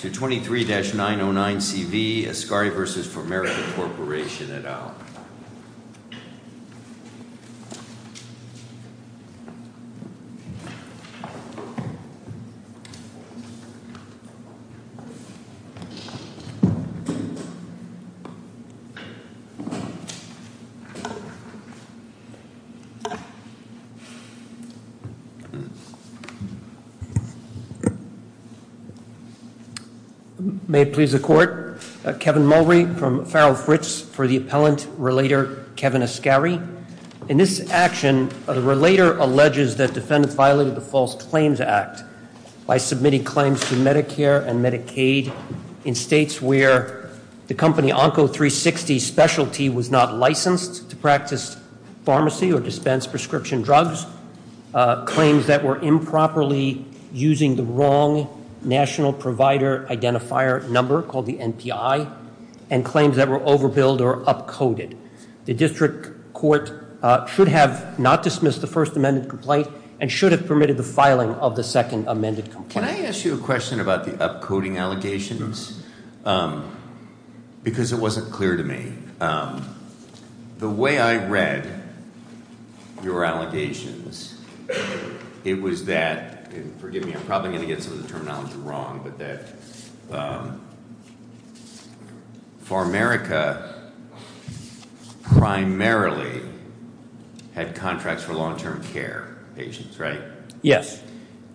to 23-909CV, Ascari v. Pharmerica Corporation et al. May it please the court, Kevin Mulrey from Farrell Fritz for the appellant, relator Kevin Ascari. In this action, the relator alleges that defendants violated the False Claims Act by submitting claims to Medicare and Medicaid in states where the company Onco360 Specialty was not licensed to practice pharmacy or dispense prescription drugs, claims that were improperly using the wrong National Provider Identifier number called the NPI, and claims that were overbilled or upcoded. The district court should have not dismissed the first amended complaint and should have permitted the filing of the second amended complaint. Can I ask you a question about the upcoding allegations? Because it wasn't clear to me. The way I read your allegations, it was that, forgive me, I'm probably going to get some of the terminology wrong, but that Pharmerica primarily had contracts for long-term care patients, right? Yes.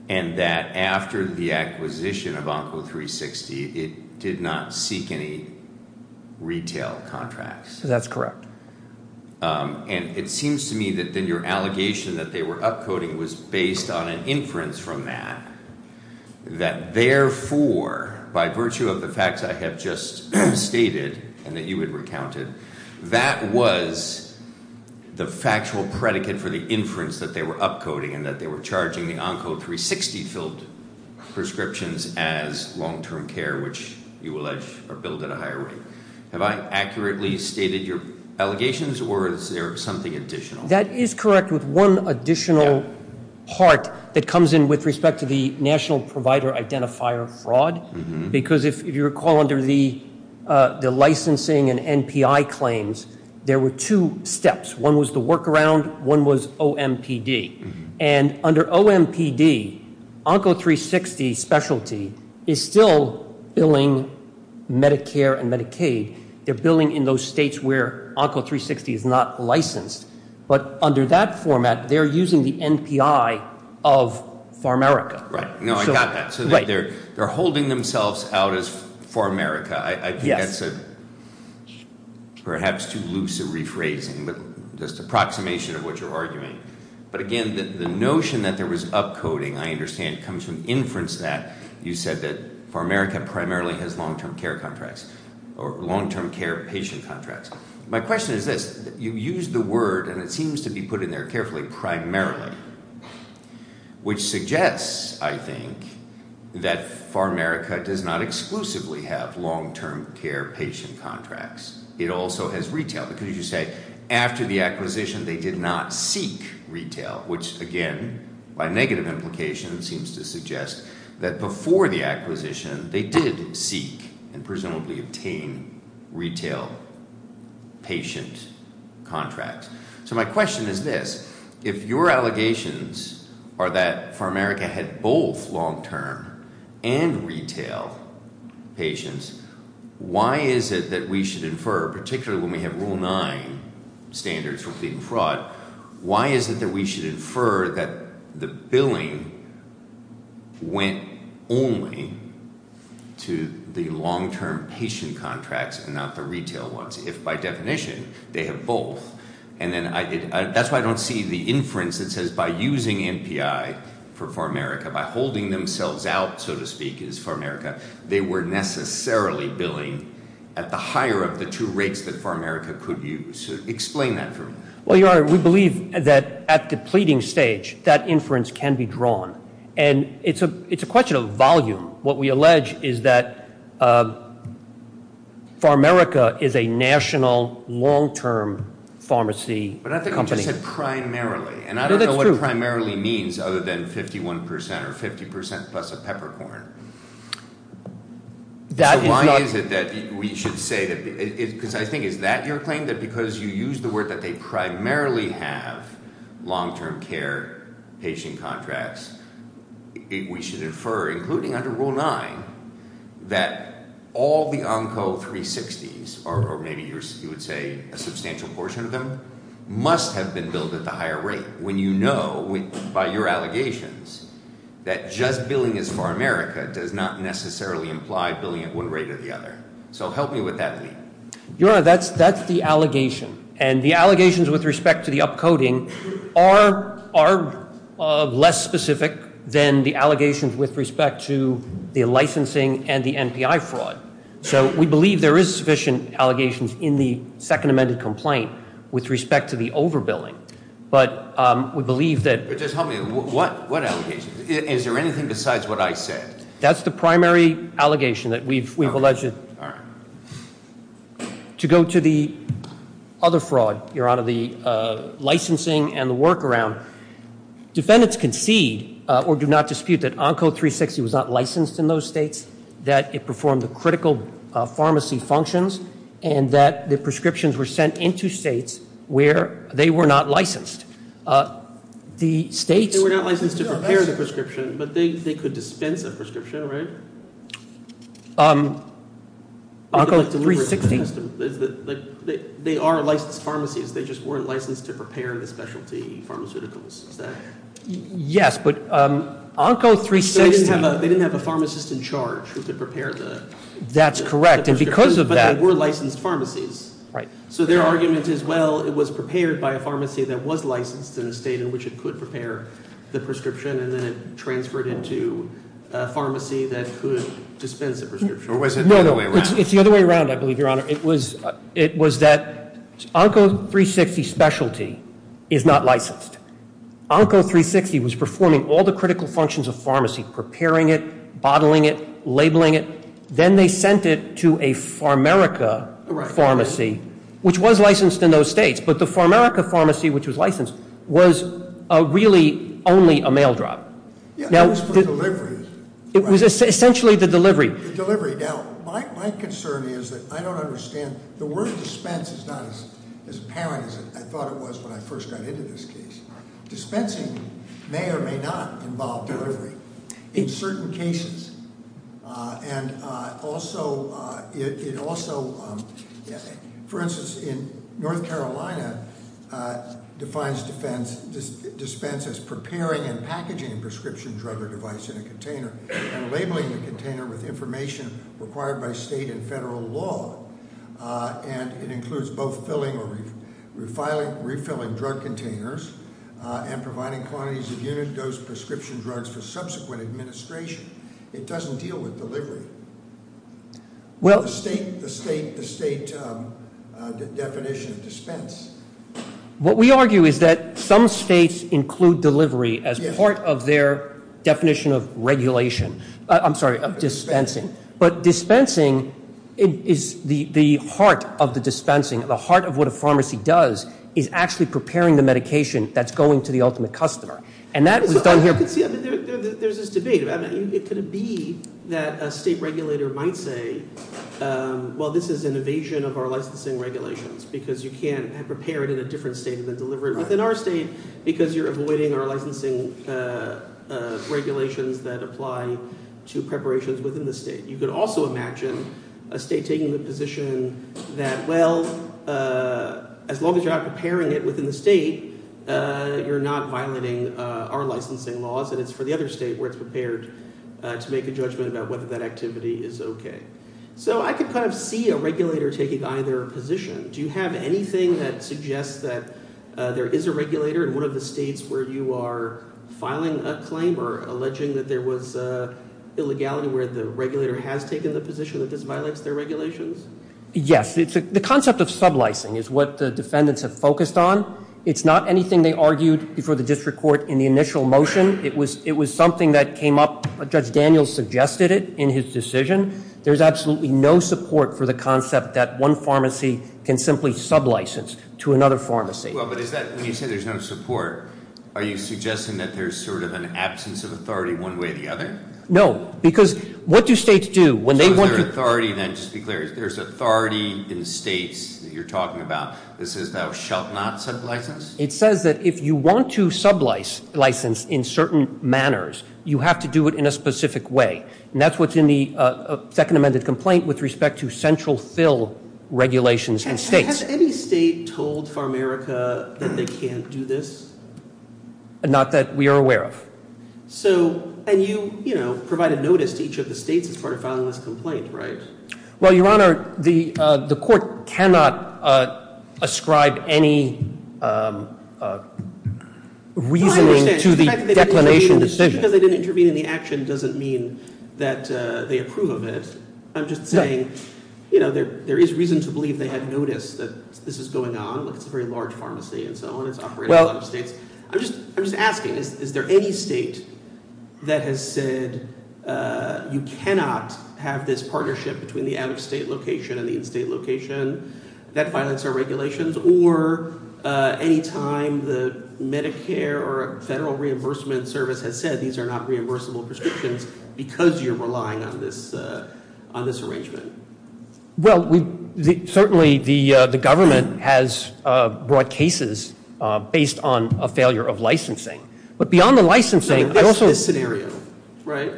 And that after the acquisition of Onco360, it did not seek any retail contracts. That's correct. And it seems to me that then your allegation that they were upcoding was based on an inference from that, that therefore, by virtue of the facts I have just stated and that you had recounted, that was the factual predicate for the inference that they were upcoding and that they were charging the Onco360-filled prescriptions as long-term care, which you allege are billed at a higher rate. Have I accurately stated your allegations, or is there something additional? That is correct, with one additional part that comes in with respect to the National Provider Identifier fraud, because if you recall under the licensing and NPI claims, there were two steps. One was the workaround. One was OMPD. And under OMPD, Onco360 specialty is still billing Medicare and Medicaid. They're billing in those states where Onco360 is not licensed. But under that format, they're using the NPI of Pharmerica. Right. No, I got that. So they're holding themselves out as Pharmerica. I think that's perhaps too loose a rephrasing, but just an approximation of what you're arguing. But again, the notion that there was upcoding, I understand, comes from inference that you said that Pharmerica primarily has long-term care contracts or long-term care patient contracts. My question is this. You used the word, and it seems to be put in there carefully, primarily, which suggests, I think, that Pharmerica does not exclusively have long-term care patient contracts. It also has retail. Because you say after the acquisition, they did not seek retail, which, again, by negative implication, seems to suggest that before the acquisition, they did seek and presumably obtain retail patient contracts. So my question is this. If your allegations are that Pharmerica had both long-term and retail patients, why is it that we should infer, particularly when we have Rule 9 standards for fleet and fraud, why is it that we should infer that the billing went only to the long-term patient contracts and not the retail ones, if by definition they have both? And that's why I don't see the inference that says by using MPI for Pharmerica, by holding themselves out, so to speak, as Pharmerica, they were necessarily billing at the higher of the two rates that Pharmerica could use. Explain that for me. Well, Your Honor, we believe that at the pleading stage, that inference can be drawn. And it's a question of volume. What we allege is that Pharmerica is a national long-term pharmacy company. But I think you just said primarily. No, that's true. It primarily means other than 51% or 50% plus of peppercorn. So why is it that we should say that? Because I think is that your claim, that because you used the word that they primarily have long-term care patient contracts, we should infer, including under Rule 9, that all the Onco 360s, or maybe you would say a substantial portion of them, must have been billed at the higher rate. When you know, by your allegations, that just billing as Pharmerica does not necessarily imply billing at one rate or the other. So help me with that, Lee. Your Honor, that's the allegation. And the allegations with respect to the upcoding are less specific than the allegations with respect to the licensing and the MPI fraud. So we believe there is sufficient allegations in the second amended complaint with respect to the overbilling. But we believe that. But just help me. What allegations? Is there anything besides what I said? That's the primary allegation that we've alleged. All right. To go to the other fraud, Your Honor, the licensing and the workaround. Defendants concede or do not dispute that Onco 360 was not licensed in those states, that it performed the critical pharmacy functions, and that the prescriptions were sent into states where they were not licensed. The states- They were not licensed to prepare the prescription, but they could dispense a prescription, right? Onco 360- They are licensed pharmacies, they just weren't licensed to prepare the specialty pharmaceuticals, is that- Yes, but Onco 360- They didn't have a pharmacist in charge who could prepare the- That's correct, and because of that- But they were licensed pharmacies. Right. So their argument is, well, it was prepared by a pharmacy that was licensed in a state in which it could prepare the prescription, and then it transferred into a pharmacy that could dispense a prescription. Or was it the other way around? No, no, it's the other way around, I believe, Your Honor. It was that Onco 360 specialty is not licensed. Onco 360 was performing all the critical functions of pharmacy, preparing it, bottling it, labeling it. Then they sent it to a Pharmerica pharmacy, which was licensed in those states. But the Pharmerica pharmacy, which was licensed, was really only a mail drop. Yeah, that was for delivery. It was essentially the delivery. The delivery. Now, my concern is that I don't understand. The word dispense is not as apparent as I thought it was when I first got into this case. Dispensing may or may not involve delivery in certain cases. And also, it also, for instance, in North Carolina, defines dispense as preparing and packaging a prescription drug or device in a container and labeling the container with information required by state and federal law. And it includes both filling or refilling drug containers and providing quantities of unit dose prescription drugs for subsequent administration. It doesn't deal with delivery. The state definition of dispense. What we argue is that some states include delivery as part of their definition of regulation. I'm sorry, of dispensing. But dispensing is the heart of the dispensing, the heart of what a pharmacy does, is actually preparing the medication that's going to the ultimate customer. And that was done here. There's this debate. Could it be that a state regulator might say, well, this is an evasion of our licensing regulations because you can't prepare it in a different state than deliver it within our state because you're avoiding our licensing regulations that apply to preparations within the state. You could also imagine a state taking the position that, well, as long as you're not preparing it within the state, you're not violating our licensing laws. And it's for the other state where it's prepared to make a judgment about whether that activity is okay. So I could kind of see a regulator taking either position. Do you have anything that suggests that there is a regulator in one of the states where you are filing a claim or alleging that there was illegality where the regulator has taken the position that this violates their regulations? Yes. The concept of sublicing is what the defendants have focused on. It's not anything they argued before the district court in the initial motion. It was something that came up. Judge Daniels suggested it in his decision. There's absolutely no support for the concept that one pharmacy can simply sublicense to another pharmacy. Well, but is that, when you say there's no support, are you suggesting that there's sort of an absence of authority one way or the other? No, because what do states do when they want to- So is there authority then, just to be clear, there's authority in states that you're talking about that says thou shalt not sublicense? It says that if you want to sublicense in certain manners, you have to do it in a specific way. And that's what's in the second amended complaint with respect to central fill regulations in states. Has any state told Pharmaerica that they can't do this? Not that we are aware of. So, and you, you know, provided notice to each of the states as part of filing this complaint, right? Well, Your Honor, the court cannot ascribe any reasoning to the declination decision. Just because they didn't intervene in the action doesn't mean that they approve of it. I'm just saying, you know, there is reason to believe they had notice that this is going on. It's a very large pharmacy and so on. It's operated in a lot of states. I'm just asking, is there any state that has said you cannot have this partnership between the out-of-state location and the in-state location that violates our regulations? Or any time the Medicare or Federal Reimbursement Service has said these are not reimbursable prescriptions because you're relying on this arrangement? Well, certainly the government has brought cases based on a failure of licensing. But beyond the licensing, I also- This scenario, right?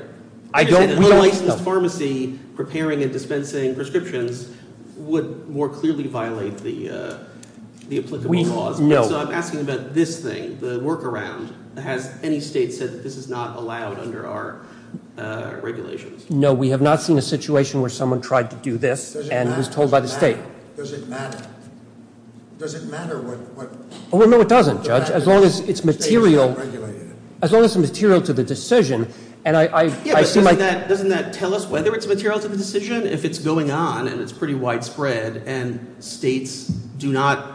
I don't- A licensed pharmacy preparing and dispensing prescriptions would more clearly violate the applicable laws. No. So I'm asking about this thing, the workaround. Has any state said this is not allowed under our regulations? No, we have not seen a situation where someone tried to do this and was told by the state. Does it matter? Does it matter what- Well, no, it doesn't, Judge. As long as it's material- State-regulated. As long as it's material to the decision, and I assume- Yeah, but doesn't that tell us whether it's material to the decision? If it's going on and it's pretty widespread and states do not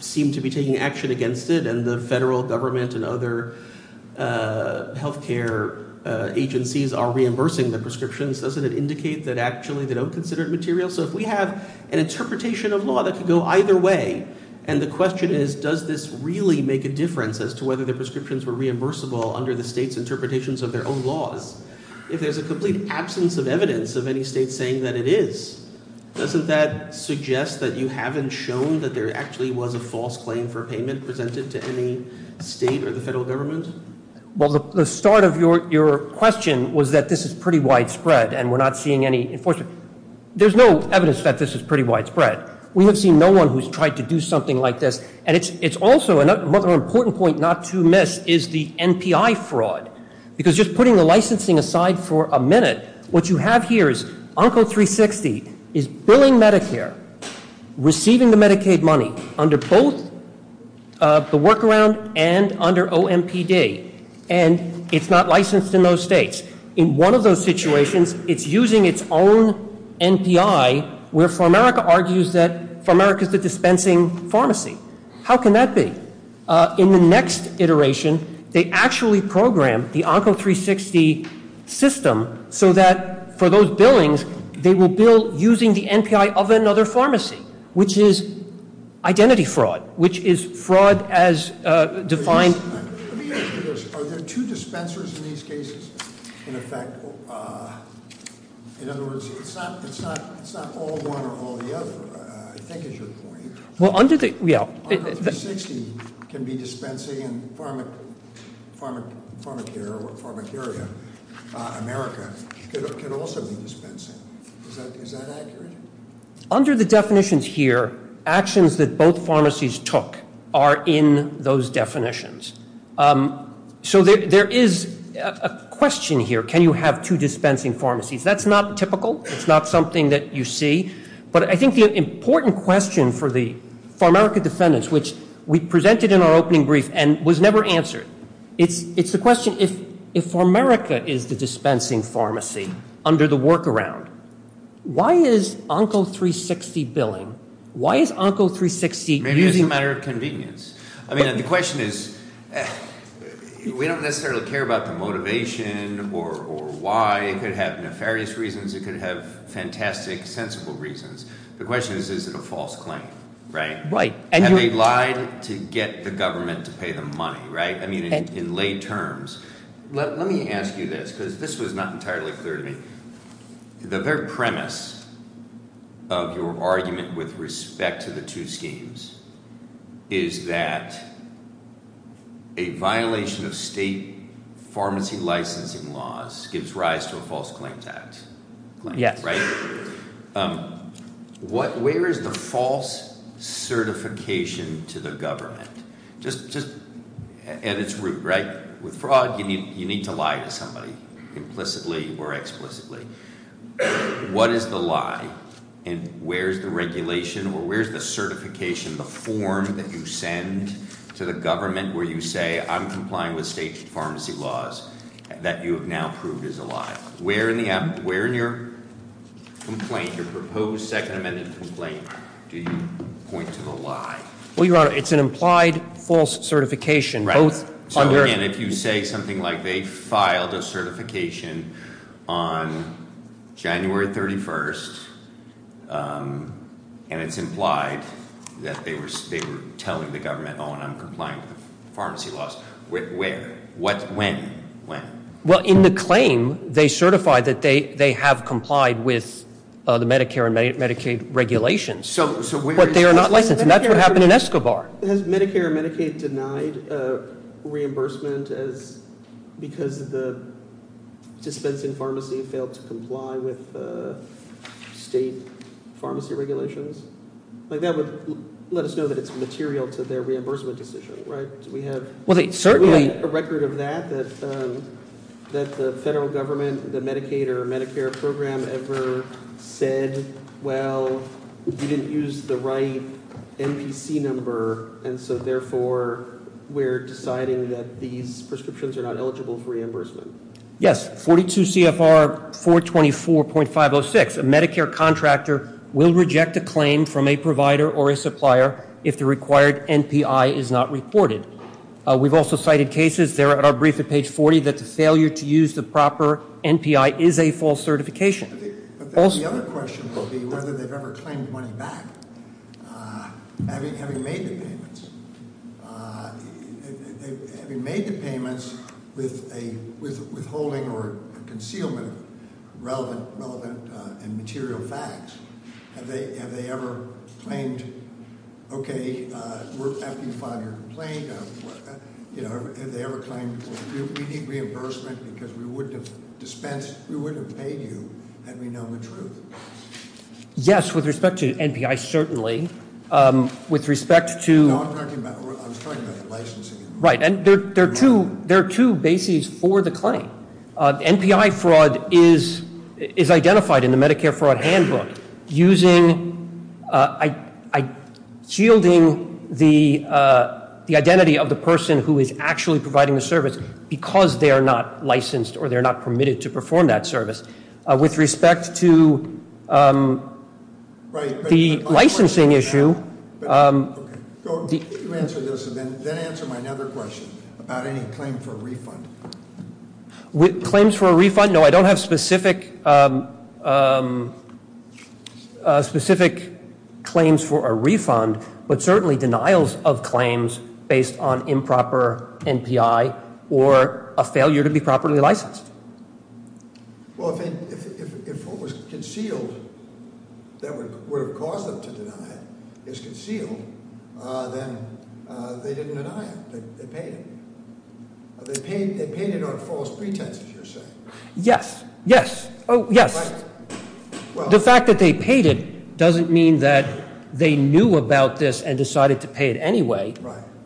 seem to be taking action against it and the federal government and other health care agencies are reimbursing the prescriptions, doesn't it indicate that actually they don't consider it material? So if we have an interpretation of law that could go either way, and the question is, does this really make a difference as to whether the prescriptions were reimbursable under the state's interpretations of their own laws? If there's a complete absence of evidence of any state saying that it is, doesn't that suggest that you haven't shown that there actually was a false claim for payment presented to any state or the federal government? Well, the start of your question was that this is pretty widespread and we're not seeing any enforcement. There's no evidence that this is pretty widespread. We have seen no one who's tried to do something like this, and it's also another important point not to miss is the NPI fraud. Because just putting the licensing aside for a minute, what you have here is Onco360 is billing Medicare, receiving the Medicaid money under both the workaround and under OMPD, and it's not licensed in those states. In one of those situations, it's using its own NPI, where Pharmerica argues that Pharmerica's the dispensing pharmacy. How can that be? In the next iteration, they actually program the Onco360 system so that for those billings, they will bill using the NPI of another pharmacy, which is identity fraud, which is fraud as defined- Let me ask you this, are there two dispensers in these cases? In effect, in other words, it's not all one or all the other, I think is your point. Well, under the- Onco360 can be dispensing and Pharmacaria, America, can also be dispensing. Is that accurate? Under the definitions here, actions that both pharmacies took are in those definitions. So there is a question here, can you have two dispensing pharmacies? That's not typical. It's not something that you see. But I think the important question for the Pharmerica defendants, which we presented in our opening brief and was never answered, it's the question, if Pharmerica is the dispensing pharmacy under the workaround, why is Onco360 billing, why is Onco360 using- Maybe it's a matter of convenience. I mean, the question is, we don't necessarily care about the motivation or why. It could have nefarious reasons. It could have fantastic, sensible reasons. The question is, is it a false claim, right? Right. Have they lied to get the government to pay them money, right? I mean, in lay terms. Let me ask you this, because this was not entirely clear to me. The very premise of your argument with respect to the two schemes is that a violation of state pharmacy licensing laws gives rise to a false claims act. Yes. Right? Where is the false certification to the government? Just at its root, right? With fraud, you need to lie to somebody, implicitly or explicitly. What is the lie? And where's the regulation or where's the certification, the form that you send to the government where you say I'm complying with state pharmacy laws that you have now proved is a lie? Where in your complaint, your proposed second amendment complaint, do you point to the lie? Well, Your Honor, it's an implied false certification. Right. So, again, if you say something like they filed a certification on January 31st, and it's implied that they were telling the government, oh, and I'm complying with the pharmacy laws, where? When? When? Well, in the claim, they certify that they have complied with the Medicare and Medicaid regulations. But they are not licensed. And that's what happened in Escobar. Has Medicare and Medicaid denied reimbursement because the dispensing pharmacy failed to comply with state pharmacy regulations? That would let us know that it's material to their reimbursement decision, right? We have a record of that, that the federal government, the Medicaid or Medicare program ever said, well, you didn't use the right MPC number. And so, therefore, we're deciding that these prescriptions are not eligible for reimbursement. Yes, 42 CFR 424.506. A Medicare contractor will reject a claim from a provider or a supplier if the required NPI is not reported. We've also cited cases there at our brief at page 40 that the failure to use the proper NPI is a false certification. But the other question would be whether they've ever claimed money back, having made the payments. Having made the payments with a withholding or a concealment of relevant and material facts. Have they ever claimed, okay, after you file your complaint, have they ever claimed, well, we need reimbursement because we wouldn't have dispensed, we wouldn't have paid you, had we known the truth? Yes, with respect to NPI, certainly. With respect to- No, I'm talking about licensing. Right, and there are two bases for the claim. NPI fraud is identified in the Medicare Fraud Handbook using, shielding the identity of the person who is actually providing the service because they are not licensed or they're not permitted to perform that service. With respect to the licensing issue- Go ahead, you answer this and then answer my other question about any claim for a refund. With claims for a refund, no, I don't have specific claims for a refund, but certainly denials of claims based on improper NPI or a failure to be properly licensed. Well, if what was concealed that would have caused them to deny it is concealed, then they didn't deny it, they paid it. They paid it on false pretense, if you're saying. Yes, yes. The fact that they paid it doesn't mean that they knew about this and decided to pay it anyway,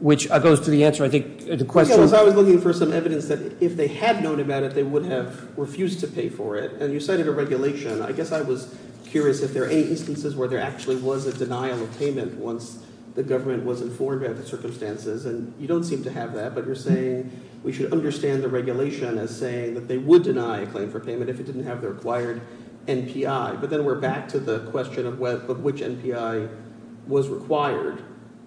which goes to the answer, I think, the question- I was looking for some evidence that if they had known about it, they would have refused to pay for it. And you cited a regulation. I guess I was curious if there are any instances where there actually was a denial of payment once the government was informed about the circumstances. And you don't seem to have that, but you're saying we should understand the regulation as saying that they would deny a claim for payment if it didn't have the required NPI. But then we're back to the question of which NPI was required.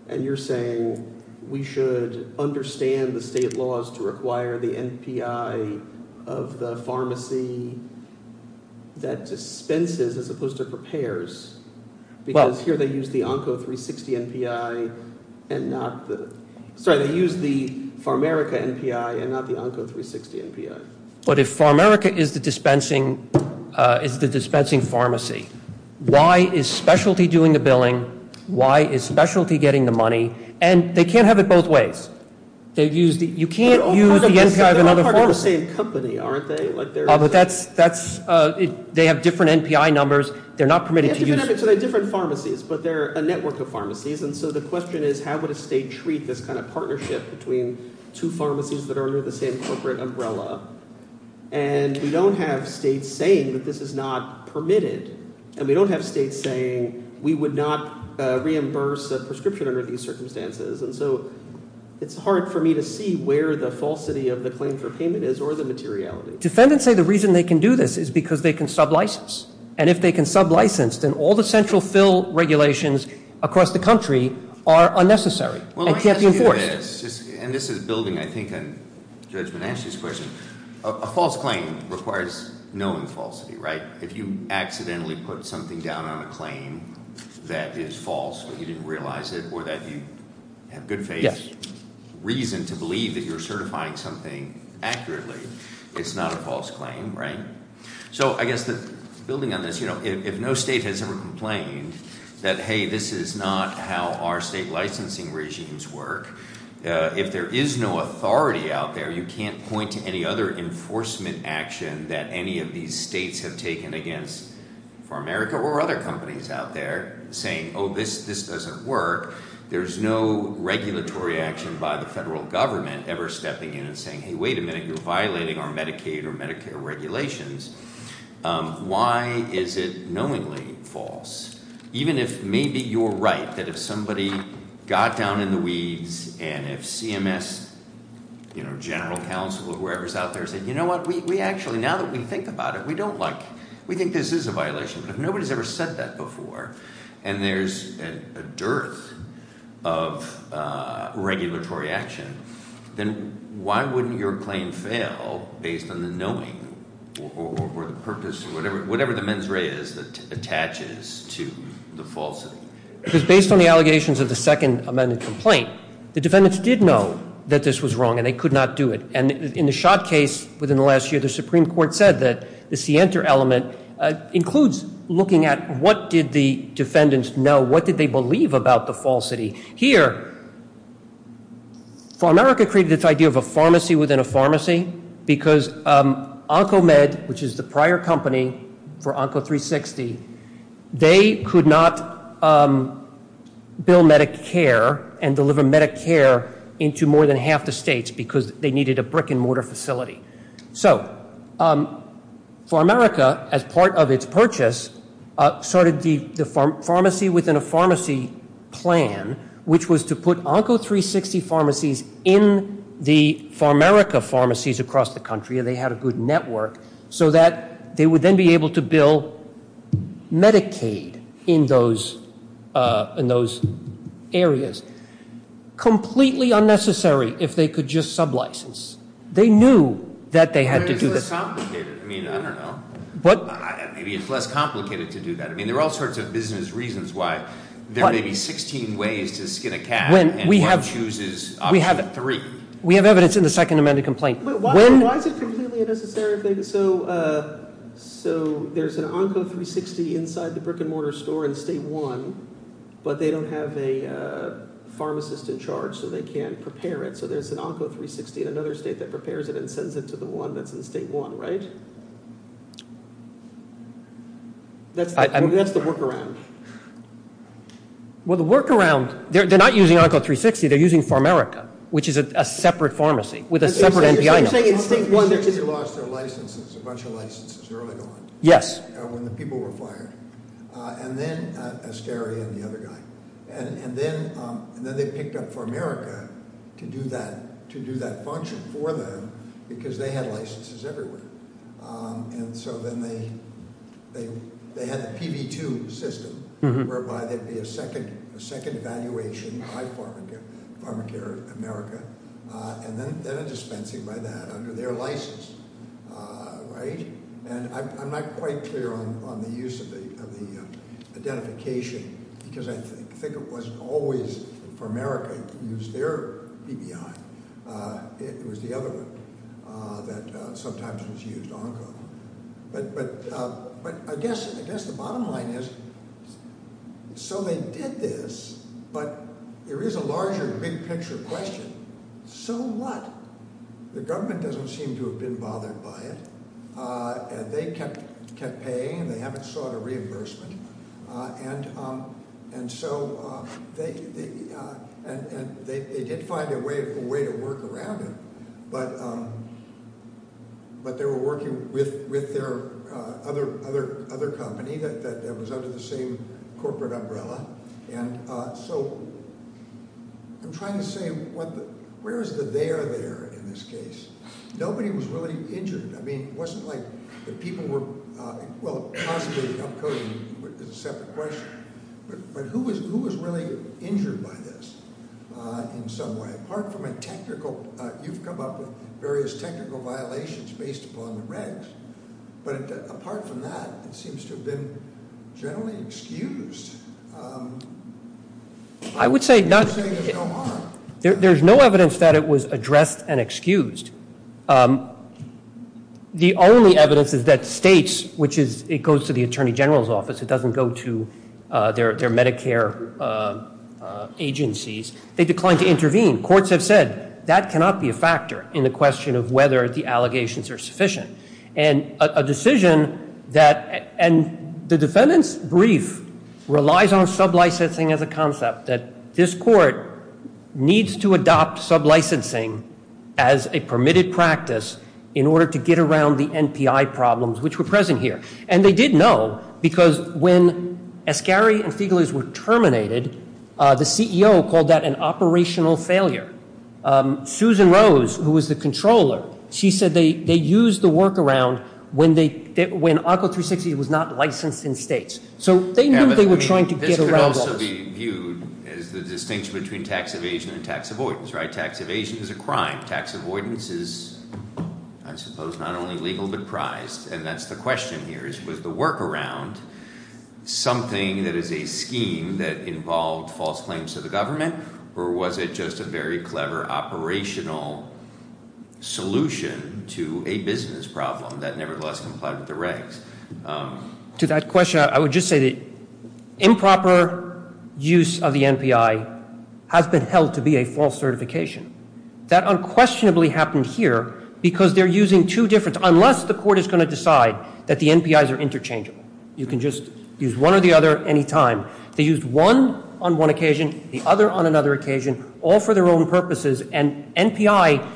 And you're saying we should understand the state laws to require the NPI of the pharmacy that dispenses as opposed to prepares because here they use the Onco 360 NPI and not the- But if PharAmerica is the dispensing pharmacy, why is specialty doing the billing? Why is specialty getting the money? And they can't have it both ways. You can't use the NPI of another pharmacy. They're all part of the same company, aren't they? They have different NPI numbers. They're not permitted to use- So they're different pharmacies, but they're a network of pharmacies. And so the question is how would a state treat this kind of partnership between two pharmacies that are under the same corporate umbrella? And we don't have states saying that this is not permitted. And we don't have states saying we would not reimburse a prescription under these circumstances. And so it's hard for me to see where the falsity of the claim for payment is or the materiality. Defendants say the reason they can do this is because they can sublicense. And if they can sublicense, then all the central fill regulations across the country are unnecessary. It can't be enforced. And this is building, I think, on Judge Menachie's question. A false claim requires known falsity, right? If you accidentally put something down on a claim that is false but you didn't realize it or that you have good faith reason to believe that you're certifying something accurately, it's not a false claim, right? So I guess building on this, you know, if no state has ever complained that, hey, this is not how our state licensing regimes work, if there is no authority out there, you can't point to any other enforcement action that any of these states have taken against Pharmerica or other companies out there saying, oh, this doesn't work. There's no regulatory action by the federal government ever stepping in and saying, hey, wait a minute, you're violating our Medicaid or Medicare regulations. Why is it knowingly false? Even if maybe you're right, that if somebody got down in the weeds and if CMS, you know, general counsel or whoever is out there said, you know what, we actually, now that we think about it, we don't like, we think this is a violation. If nobody's ever said that before and there's a dearth of regulatory action, then why wouldn't your claim fail based on the knowing or the purpose or whatever the mens rea is that attaches to the falsity? Because based on the allegations of the second amended complaint, the defendants did know that this was wrong and they could not do it. And in the Schott case within the last year, the Supreme Court said that the scienter element includes looking at what did the defendants know, what did they believe about the falsity. Here, PharAmerica created this idea of a pharmacy within a pharmacy because OncoMed, which is the prior company for Onco360, they could not bill Medicare and deliver Medicare into more than half the states because they needed a brick and mortar facility. So PharAmerica, as part of its purchase, started the pharmacy within a pharmacy plan, which was to put Onco360 pharmacies in the PharAmerica pharmacies across the country, and they had a good network, so that they would then be able to bill Medicaid in those areas. Completely unnecessary if they could just sub-license. They knew that they had to do this. But it's less complicated. I mean, I don't know. Maybe it's less complicated to do that. I mean, there are all sorts of business reasons why there may be 16 ways to skin a cat and one chooses option three. We have evidence in the second amended complaint. Why is it completely unnecessary? So there's an Onco360 inside the brick and mortar store in state one, but they don't have a pharmacist in charge, so they can't prepare it. So there's an Onco360 in another state that prepares it and sends it to the one that's in state one, right? That's the workaround. Well, the workaround – they're not using Onco360. They're using PharAmerica, which is a separate pharmacy with a separate NPI number. Onco360 lost their licenses, a bunch of licenses early on. Yes. When the people were fired. And then Ascari and the other guy. And then they picked up PharAmerica to do that function for them because they had licenses everywhere. And so then they had the PV2 system whereby there'd be a second evaluation by PharAmerica and then a dispensing by that under their license, right? And I'm not quite clear on the use of the identification because I think it wasn't always PharAmerica used their PBI. It was the other one that sometimes was used, Onco. But I guess the bottom line is so they did this, but there is a larger, big-picture question. So what? The government doesn't seem to have been bothered by it. They kept paying and they haven't sought a reimbursement. And so they did find a way to work around it, but they were working with their other company that was under the same corporate umbrella. And so I'm trying to say where is the there there in this case? Nobody was really injured. I mean, it wasn't like the people were, well, possibly up-coding is a separate question. But who was really injured by this in some way? Apart from a technical, you've come up with various technical violations based upon the regs. But apart from that, it seems to have been generally excused. I would say not. You're saying there's no harm. There's no evidence that it was addressed and excused. The only evidence is that states, which is it goes to the attorney general's office. It doesn't go to their Medicare agencies. They declined to intervene. Courts have said that cannot be a factor in the question of whether the allegations are sufficient. And a decision that, and the defendant's brief relies on sublicensing as a concept, that this court needs to adopt sublicensing as a permitted practice in order to get around the NPI problems, which were present here. And they did know because when Ascari and Fegalis were terminated, the CEO called that an operational failure. Susan Rose, who was the controller, she said they used the workaround when ARCO 360 was not licensed in states. So they knew they were trying to get around those. This could also be viewed as the distinction between tax evasion and tax avoidance, right? Tax evasion is a crime. Tax avoidance is, I suppose, not only legal but prized. And that's the question here is, was the workaround something that is a scheme that involved false claims to the government? Or was it just a very clever operational solution to a business problem that nevertheless complied with the regs? To that question, I would just say that improper use of the NPI has been held to be a false certification. That unquestionably happened here because they're using two different, unless the court is going to decide that the NPIs are interchangeable. You can just use one or the other any time. They used one on one occasion, the other on another occasion, all for their own purposes. And NPI,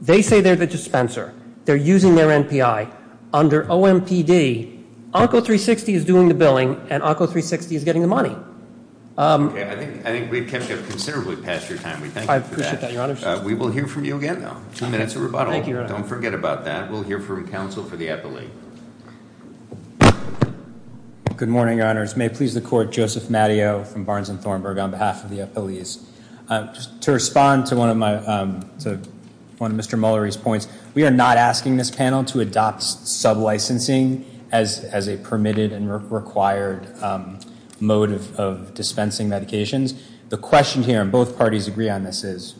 they say they're the dispenser. They're using their NPI. Under OMPD, ARCO 360 is doing the billing, and ARCO 360 is getting the money. Okay, I think we've kept up considerably past your time. We thank you for that. I appreciate that, Your Honors. We will hear from you again, though. Two minutes of rebuttal. Thank you, Your Honor. Don't forget about that. We'll hear from counsel for the appellate. Good morning, Your Honors. May it please the Court, Joseph Matteo from Barnes and Thornburg on behalf of the appellees. To respond to one of Mr. Mullery's points, we are not asking this panel to adopt sublicensing as a permitted and required mode of dispensing medications. The question here, and both parties agree on this, is,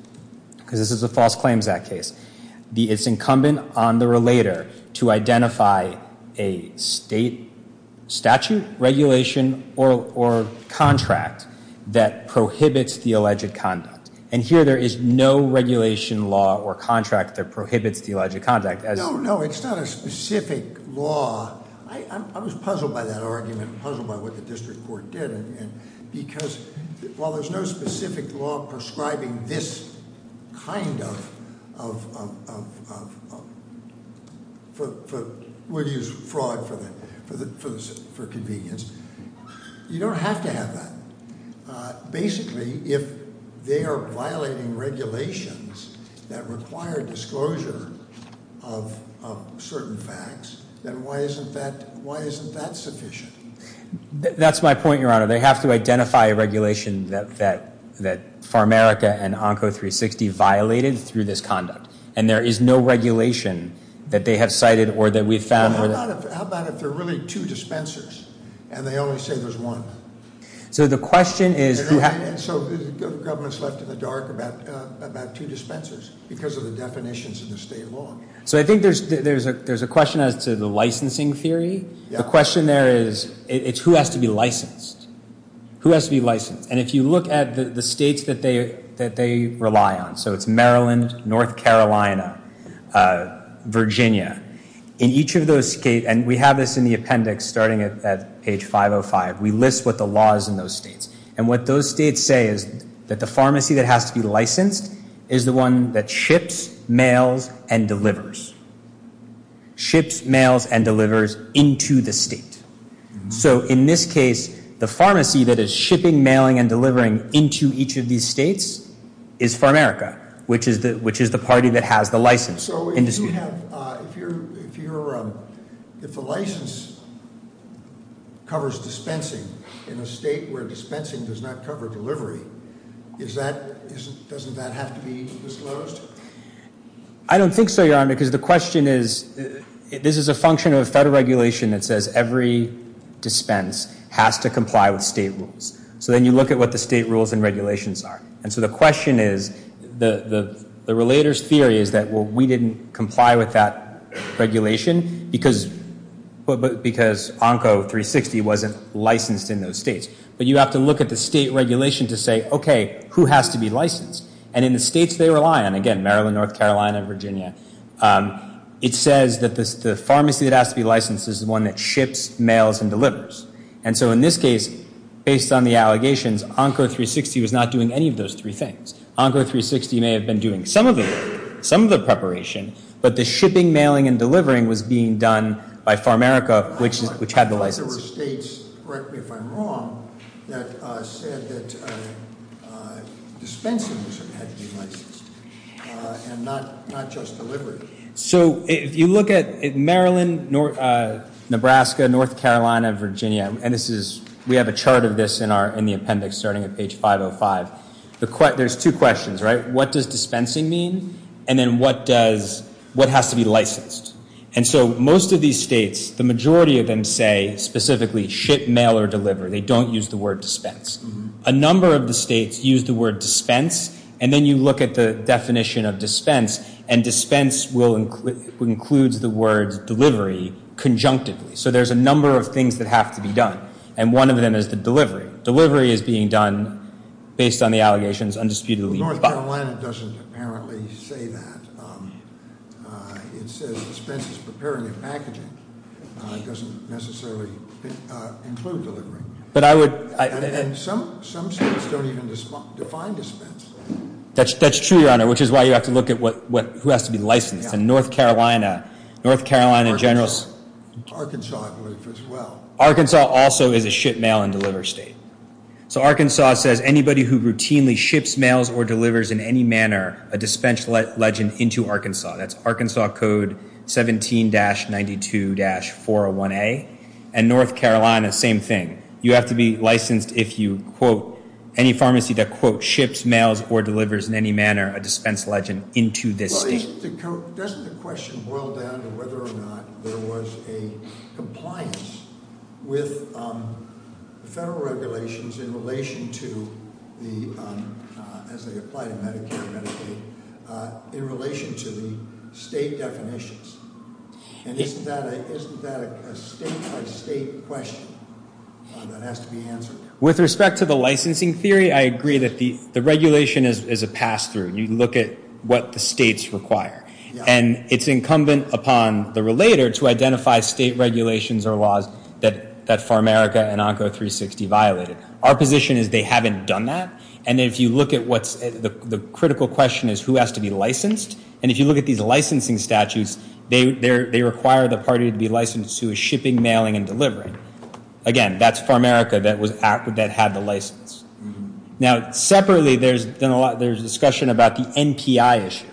because this is a False Claims Act case, it's incumbent on the relator to identify a state statute, regulation, or contract that prohibits the alleged conduct. And here, there is no regulation, law, or contract that prohibits the alleged conduct. No, no, it's not a specific law. I was puzzled by that argument, puzzled by what the district court did. Because while there's no specific law prescribing this kind of, we'll use fraud for convenience, you don't have to have that. Basically, if they are violating regulations that require disclosure of certain facts, then why isn't that sufficient? That's my point, Your Honor. They have to identify a regulation that Pharmaica and Onco 360 violated through this conduct. And there is no regulation that they have cited or that we've found. How about if there are really two dispensers and they only say there's one? So the question is, So the government's left in the dark about two dispensers because of the definitions in the state law. So I think there's a question as to the licensing theory. The question there is, it's who has to be licensed? Who has to be licensed? And if you look at the states that they rely on, so it's Maryland, North Carolina, Virginia, in each of those states, and we have this in the appendix starting at page 505, we list what the law is in those states. And what those states say is that the pharmacy that has to be licensed is the one that ships, mails, and delivers. Ships, mails, and delivers into the state. So in this case, the pharmacy that is shipping, mailing, and delivering into each of these states is Pharmaica, which is the party that has the license. So if the license covers dispensing in a state where dispensing does not cover delivery, doesn't that have to be disclosed? I don't think so, Your Honor, because the question is, this is a function of federal regulation that says every dispense has to comply with state rules. So then you look at what the state rules and regulations are. And so the question is, the relator's theory is that, well, we didn't comply with that regulation because ONCO 360 wasn't licensed in those states. But you have to look at the state regulation to say, okay, who has to be licensed? And in the states they rely on, again, Maryland, North Carolina, Virginia, it says that the pharmacy that has to be licensed is the one that ships, mails, and delivers. And so in this case, based on the allegations, ONCO 360 was not doing any of those three things. ONCO 360 may have been doing some of the preparation, but the shipping, mailing, and delivering was being done by Pharmaica, which had the license. I think there were states, correct me if I'm wrong, that said that dispensing had to be licensed and not just delivery. So if you look at Maryland, Nebraska, North Carolina, Virginia, and we have a chart of this in the appendix starting at page 505, there's two questions, right? What does dispensing mean? And then what has to be licensed? And so most of these states, the majority of them say specifically ship, mail, or deliver. They don't use the word dispense. A number of the states use the word dispense, and then you look at the definition of dispense, and dispense includes the word delivery conjunctively. So there's a number of things that have to be done. And one of them is the delivery. Delivery is being done based on the allegations undisputedly filed. North Carolina doesn't apparently say that. It says dispense is preparing a packaging. It doesn't necessarily include delivery. And some states don't even define dispense. That's true, Your Honor, which is why you have to look at who has to be licensed. In North Carolina, North Carolina generals- Arkansas. Arkansas, as well. Arkansas also is a ship, mail, and deliver state. So Arkansas says anybody who routinely ships, mails, or delivers in any manner a dispense legend into Arkansas. That's Arkansas Code 17-92-401A. And North Carolina, same thing. You have to be licensed if you quote any pharmacy that, quote, ships, mails, or delivers in any manner a dispense legend into this state. Doesn't the question boil down to whether or not there was a compliance with federal regulations in relation to the- as they apply to Medicare and Medicaid- in relation to the state definitions? And isn't that a state-by-state question that has to be answered? With respect to the licensing theory, I agree that the regulation is a pass-through. You look at what the states require. And it's incumbent upon the relator to identify state regulations or laws that Pharmaerica and ONCO 360 violated. Our position is they haven't done that. And if you look at what's- the critical question is who has to be licensed. And if you look at these licensing statutes, they require the party to be licensed who is shipping, mailing, and delivering. Again, that's Pharmaerica that had the license. Now, separately, there's been a lot- there's discussion about the NPI issue.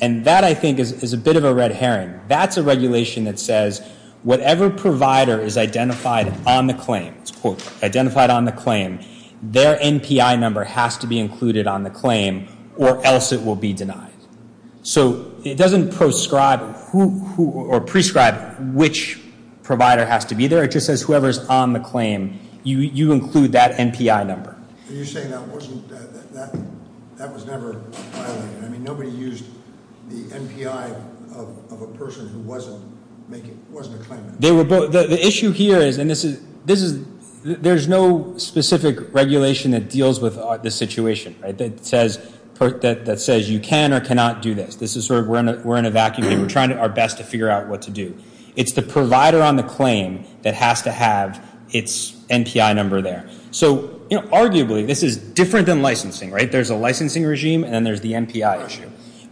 And that, I think, is a bit of a red herring. That's a regulation that says whatever provider is identified on the claim, quote, identified on the claim, their NPI number has to be included on the claim or else it will be denied. So it doesn't prescribe who- or prescribe which provider has to be there. It just says whoever is on the claim, you include that NPI number. Are you saying that wasn't- that was never violated? I mean, nobody used the NPI of a person who wasn't making- wasn't a claimant. The issue here is- and this is- there's no specific regulation that deals with this situation, right, that says you can or cannot do this. This is sort of we're in a vacuum here. We're trying our best to figure out what to do. It's the provider on the claim that has to have its NPI number there. So, you know, arguably, this is different than licensing, right? There's a licensing regime and then there's the NPI issue.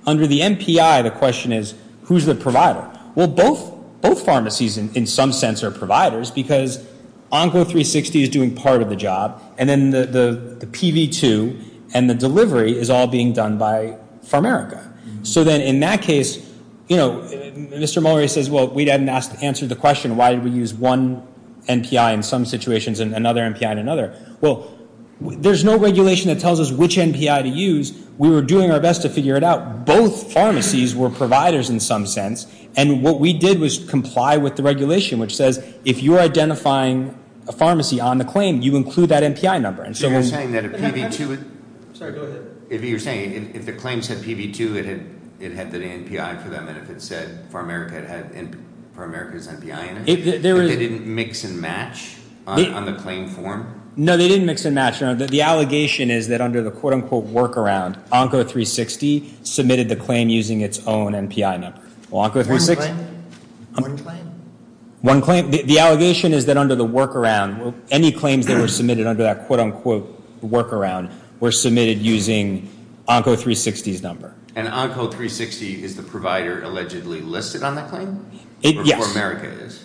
Under the NPI, the question is who's the provider? Well, both pharmacies, in some sense, are providers because Onco360 is doing part of the job and then the PV2 and the delivery is all being done by Pharmerica. So then in that case, you know, Mr. Mulroney says, well, we didn't answer the question, why did we use one NPI in some situations and another NPI in another? Well, there's no regulation that tells us which NPI to use. We were doing our best to figure it out. Both pharmacies were providers in some sense, and what we did was comply with the regulation, which says if you're identifying a pharmacy on the claim, you include that NPI number. If you're saying that if the claims had PV2, it had the NPI for them, and if it said Pharmerica had Pharmerica's NPI in it, they didn't mix and match on the claim form? No, they didn't mix and match. The allegation is that under the quote-unquote workaround, Onco360 submitted the claim using its own NPI number. One claim? One claim? One claim. The allegation is that under the workaround, any claims that were submitted under that quote-unquote workaround were submitted using Onco360's number. And Onco360 is the provider allegedly listed on the claim? Yes. Or Pharmerica is?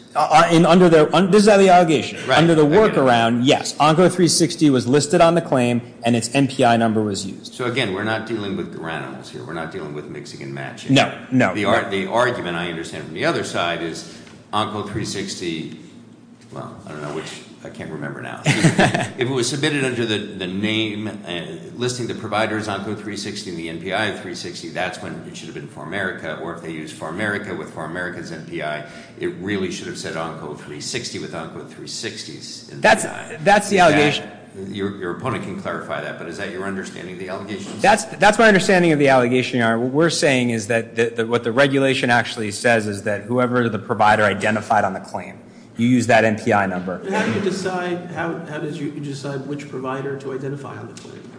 This is the allegation. Under the workaround, yes, Onco360 was listed on the claim, and its NPI number was used. So again, we're not dealing with granules here. We're not dealing with mixing and matching. No, no. The argument I understand from the other side is Onco360, well, I don't know which. I can't remember now. If it was submitted under the name listing the providers Onco360 and the NPI of 360, that's when it should have been Pharmerica, or if they used Pharmerica with Pharmerica's NPI, it really should have said Onco360 with Onco360's NPI. That's the allegation. Your opponent can clarify that, but is that your understanding of the allegation? That's my understanding of the allegation, Your Honor. What we're saying is that what the regulation actually says is that whoever the provider identified on the claim, you use that NPI number. How do you decide which provider to identify on the claim?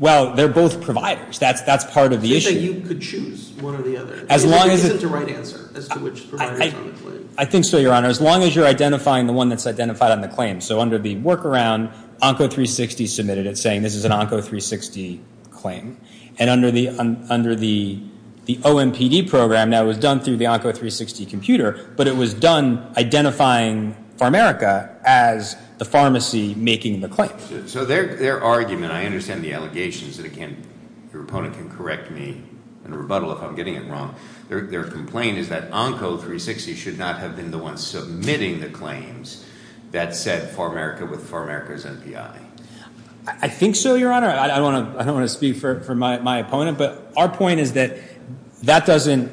Well, they're both providers. That's part of the issue. So you could choose one or the other. There isn't a right answer as to which provider is on the claim. I think so, Your Honor, as long as you're identifying the one that's identified on the claim. So under the workaround, Onco360 submitted it, saying this is an Onco360 claim. And under the OMPD program, that was done through the Onco360 computer, but it was done identifying Pharmerica as the pharmacy making the claim. So their argument, I understand the allegations that it can't, your opponent can correct me in a rebuttal if I'm getting it wrong. Their complaint is that Onco360 should not have been the one submitting the claims that said Pharmerica with Pharmerica's NPI. I think so, Your Honor. I don't want to speak for my opponent, but our point is that that doesn't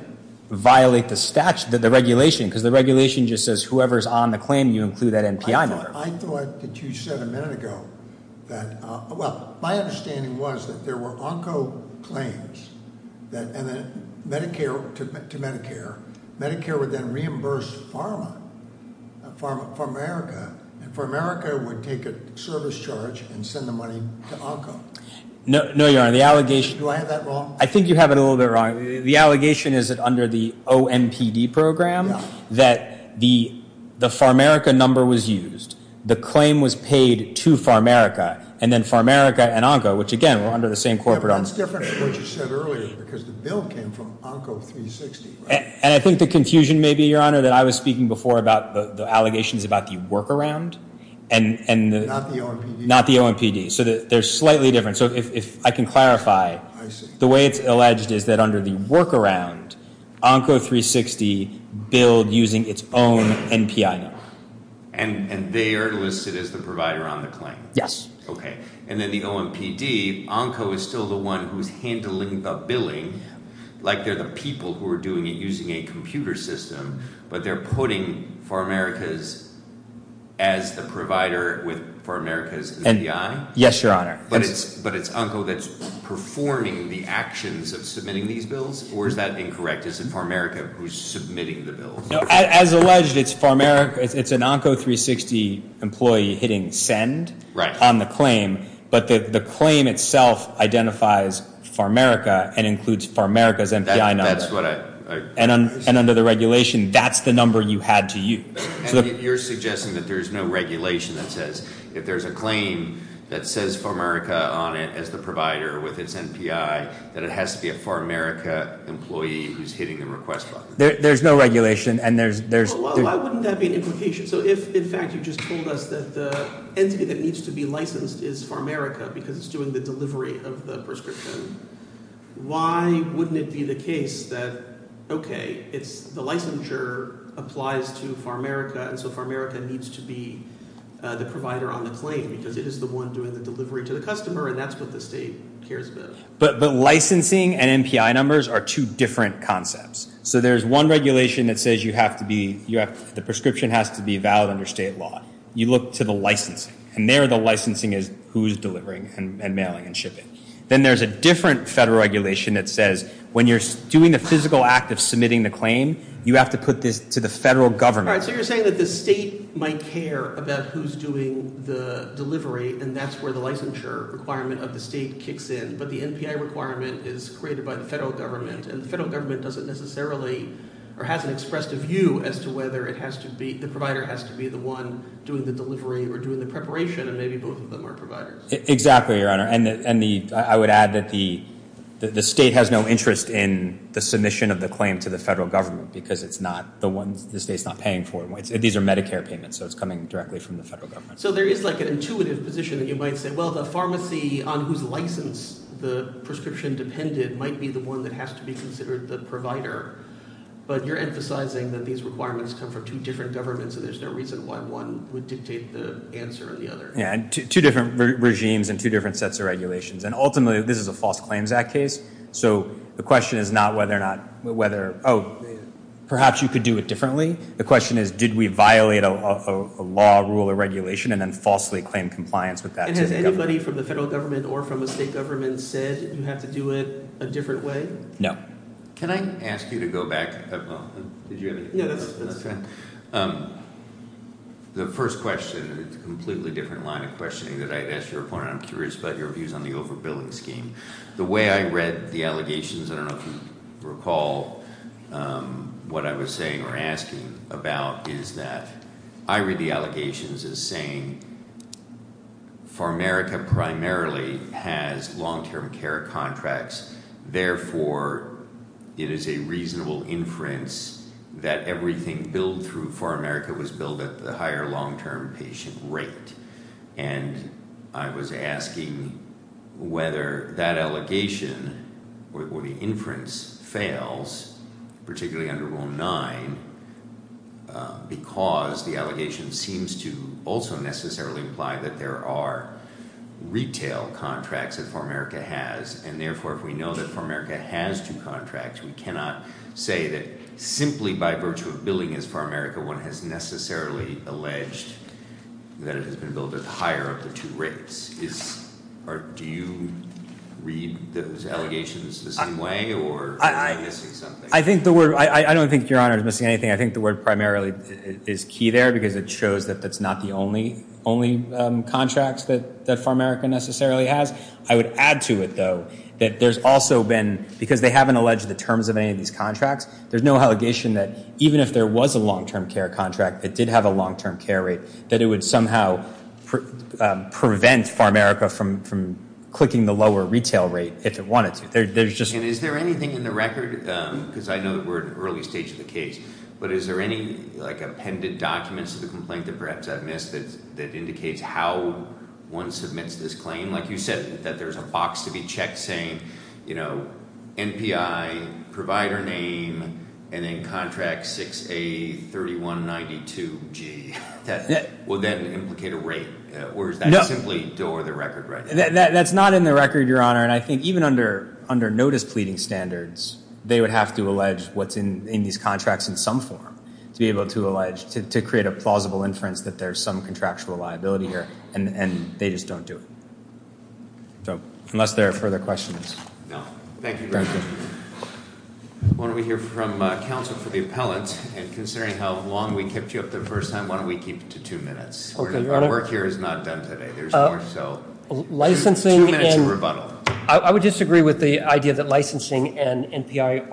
violate the regulation, because the regulation just says whoever's on the claim, you include that NPI number. I thought that you said a minute ago that, well, my understanding was that there were Onco claims to Medicare. Medicare would then reimburse Pharmerica, and Pharmerica would take a service charge and send the money to Onco. No, Your Honor, the allegation- Do I have that wrong? I think you have it a little bit wrong. The allegation is that under the OMPD program, that the Pharmerica number was used. The claim was paid to Pharmerica, and then Pharmerica and Onco, which again, were under the same corporate- Well, that's different from what you said earlier, because the bill came from Onco360. And I think the confusion may be, Your Honor, that I was speaking before about the allegations about the workaround and- Not the OMPD. Not the OMPD. So they're slightly different. So if I can clarify, the way it's alleged is that under the workaround, Onco360 billed using its own NPI number. And they are listed as the provider on the claim? Yes. Okay. And then the OMPD, Onco is still the one who's handling the billing, like they're the people who are doing it using a computer system. But they're putting Pharmerica as the provider with Pharmerica's NPI? Yes, Your Honor. But it's Onco that's performing the actions of submitting these bills? Or is that incorrect? Is it Pharmerica who's submitting the bills? As alleged, it's Pharmerica, it's an Onco360 employee hitting send on the claim. But the claim itself identifies Pharmerica and includes Pharmerica's NPI number. That's what I- And under the regulation, that's the number you had to use. You're suggesting that there's no regulation that says if there's a claim that says Pharmerica on it as the provider with its NPI, that it has to be a Pharmerica employee who's hitting the request button? There's no regulation, and there's- Well, why wouldn't that be an implication? So if, in fact, you just told us that the entity that needs to be licensed is Pharmerica because it's doing the delivery of the prescription, why wouldn't it be the case that, okay, the licensure applies to Pharmerica, and so Pharmerica needs to be the provider on the claim because it is the one doing the delivery to the customer, and that's what the state cares about? But licensing and NPI numbers are two different concepts. So there's one regulation that says you have to be-the prescription has to be valid under state law. You look to the licensing, and there the licensing is who's delivering and mailing and shipping. Then there's a different federal regulation that says when you're doing the physical act of submitting the claim, you have to put this to the federal government. All right, so you're saying that the state might care about who's doing the delivery, and that's where the licensure requirement of the state kicks in, but the NPI requirement is created by the federal government, and the federal government doesn't necessarily or hasn't expressed a view as to whether the provider has to be the one doing the delivery or doing the preparation, and maybe both of them are providers. Exactly, Your Honor, and I would add that the state has no interest in the submission of the claim to the federal government because it's not the ones the state's not paying for. These are Medicare payments, so it's coming directly from the federal government. So there is like an intuitive position that you might say, well, the pharmacy on whose license the prescription depended might be the one that has to be considered the provider, but you're emphasizing that these requirements come from two different governments, and there's no reason why one would dictate the answer on the other. Yeah, two different regimes and two different sets of regulations, and ultimately this is a False Claims Act case, so the question is not whether or not-oh, perhaps you could do it differently. The question is did we violate a law, rule, or regulation, and then falsely claim compliance with that to the government? And has anybody from the federal government or from the state government said you have to do it a different way? No. Can I ask you to go back? Did you have anything to add? Yeah, that's fine. The first question is a completely different line of questioning that I've asked your opponent. I'm curious about your views on the overbilling scheme. The way I read the allegations, I don't know if you recall what I was saying or asking about, is that I read the allegations as saying Pharma America primarily has long-term care contracts, therefore it is a reasonable inference that everything billed through Pharma America was billed at the higher long-term patient rate, and I was asking whether that allegation or the inference fails, particularly under Rule 9, because the allegation seems to also necessarily imply that there are retail contracts that Pharma America has, and therefore if we know that Pharma America has two contracts, we cannot say that simply by virtue of billing as Pharma America, one has necessarily alleged that it has been billed at the higher of the two rates. Do you read those allegations the same way or am I missing something? I don't think your Honor is missing anything. I think the word primarily is key there because it shows that that's not the only contracts that Pharma America necessarily has. I would add to it, though, that there's also been, because they haven't alleged the terms of any of these contracts, there's no allegation that even if there was a long-term care contract that did have a long-term care rate, that it would somehow prevent Pharma America from clicking the lower retail rate if it wanted to. And is there anything in the record, because I know that we're at an early stage of the case, but is there any like appended documents to the complaint that perhaps I've missed that indicates how one submits this claim? Like you said, that there's a box to be checked saying, you know, NPI, provider name, and then contract 6A3192G that will then implicate a rate, or is that simply door of the record right now? That's not in the record, Your Honor, and I think even under notice pleading standards, they would have to allege what's in these contracts in some form to be able to allege, to create a plausible inference that there's some contractual liability here, and they just don't do it. So unless there are further questions. Thank you, Your Honor. Why don't we hear from counsel for the appellant, and considering how long we kept you up the first time, why don't we keep it to two minutes? Okay, Your Honor. Our work here is not done today. There's more, so two minutes of rebuttal. I would disagree with the idea that licensing and NPI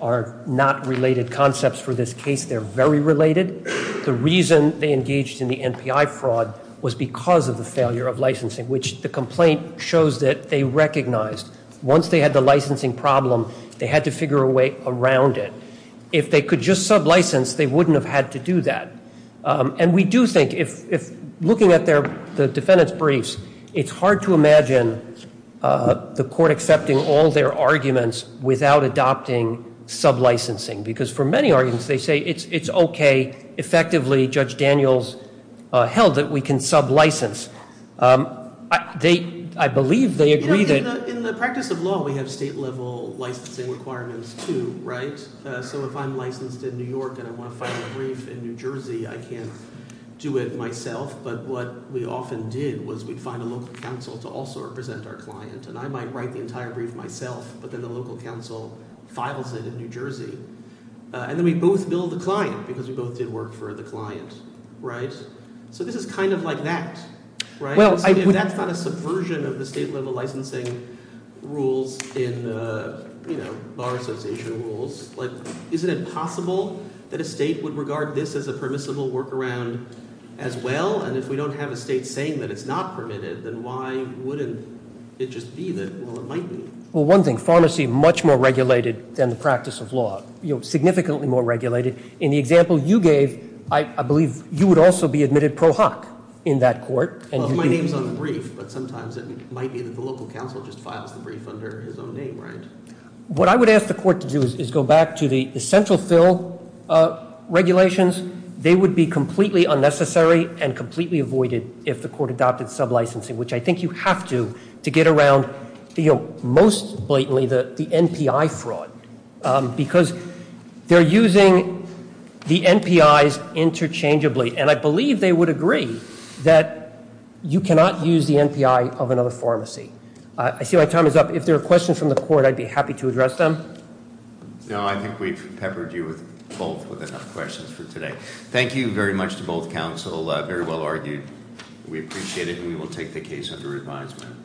are not related concepts for this case. They're very related. The reason they engaged in the NPI fraud was because of the failure of licensing, which the complaint shows that they recognized. Once they had the licensing problem, they had to figure a way around it. If they could just sublicense, they wouldn't have had to do that, and we do think if looking at the defendant's briefs, it's hard to imagine the court accepting all their arguments without adopting sublicensing because for many arguments, they say it's okay. Effectively, Judge Daniels held that we can sublicense. I believe they agree that- In the practice of law, we have state-level licensing requirements too, right? So if I'm licensed in New York and I want to file a brief in New Jersey, I can't do it myself, but what we often did was we'd find a local counsel to also represent our client, and I might write the entire brief myself, but then the local counsel files it in New Jersey, and then we both bill the client because we both did work for the client, right? So this is kind of like that, right? If that's not a subversion of the state-level licensing rules in the Bar Association rules, isn't it possible that a state would regard this as a permissible workaround as well? And if we don't have a state saying that it's not permitted, then why wouldn't it just be that, well, it might be? Well, one thing, pharmacy much more regulated than the practice of law, significantly more regulated. In the example you gave, I believe you would also be admitted pro hoc in that court. Well, if my name's on the brief, but sometimes it might be that the local counsel just files the brief under his own name, right? What I would ask the court to do is go back to the essential fill regulations. They would be completely unnecessary and completely avoided if the court adopted sub-licensing, which I think you have to to get around most blatantly the NPI fraud, because they're using the NPIs interchangeably, and I believe they would agree that you cannot use the NPI of another pharmacy. I see my time is up. If there are questions from the court, I'd be happy to address them. No, I think we've peppered you both with enough questions for today. Thank you very much to both counsel. Very well argued. We appreciate it, and we will take the case under advisement.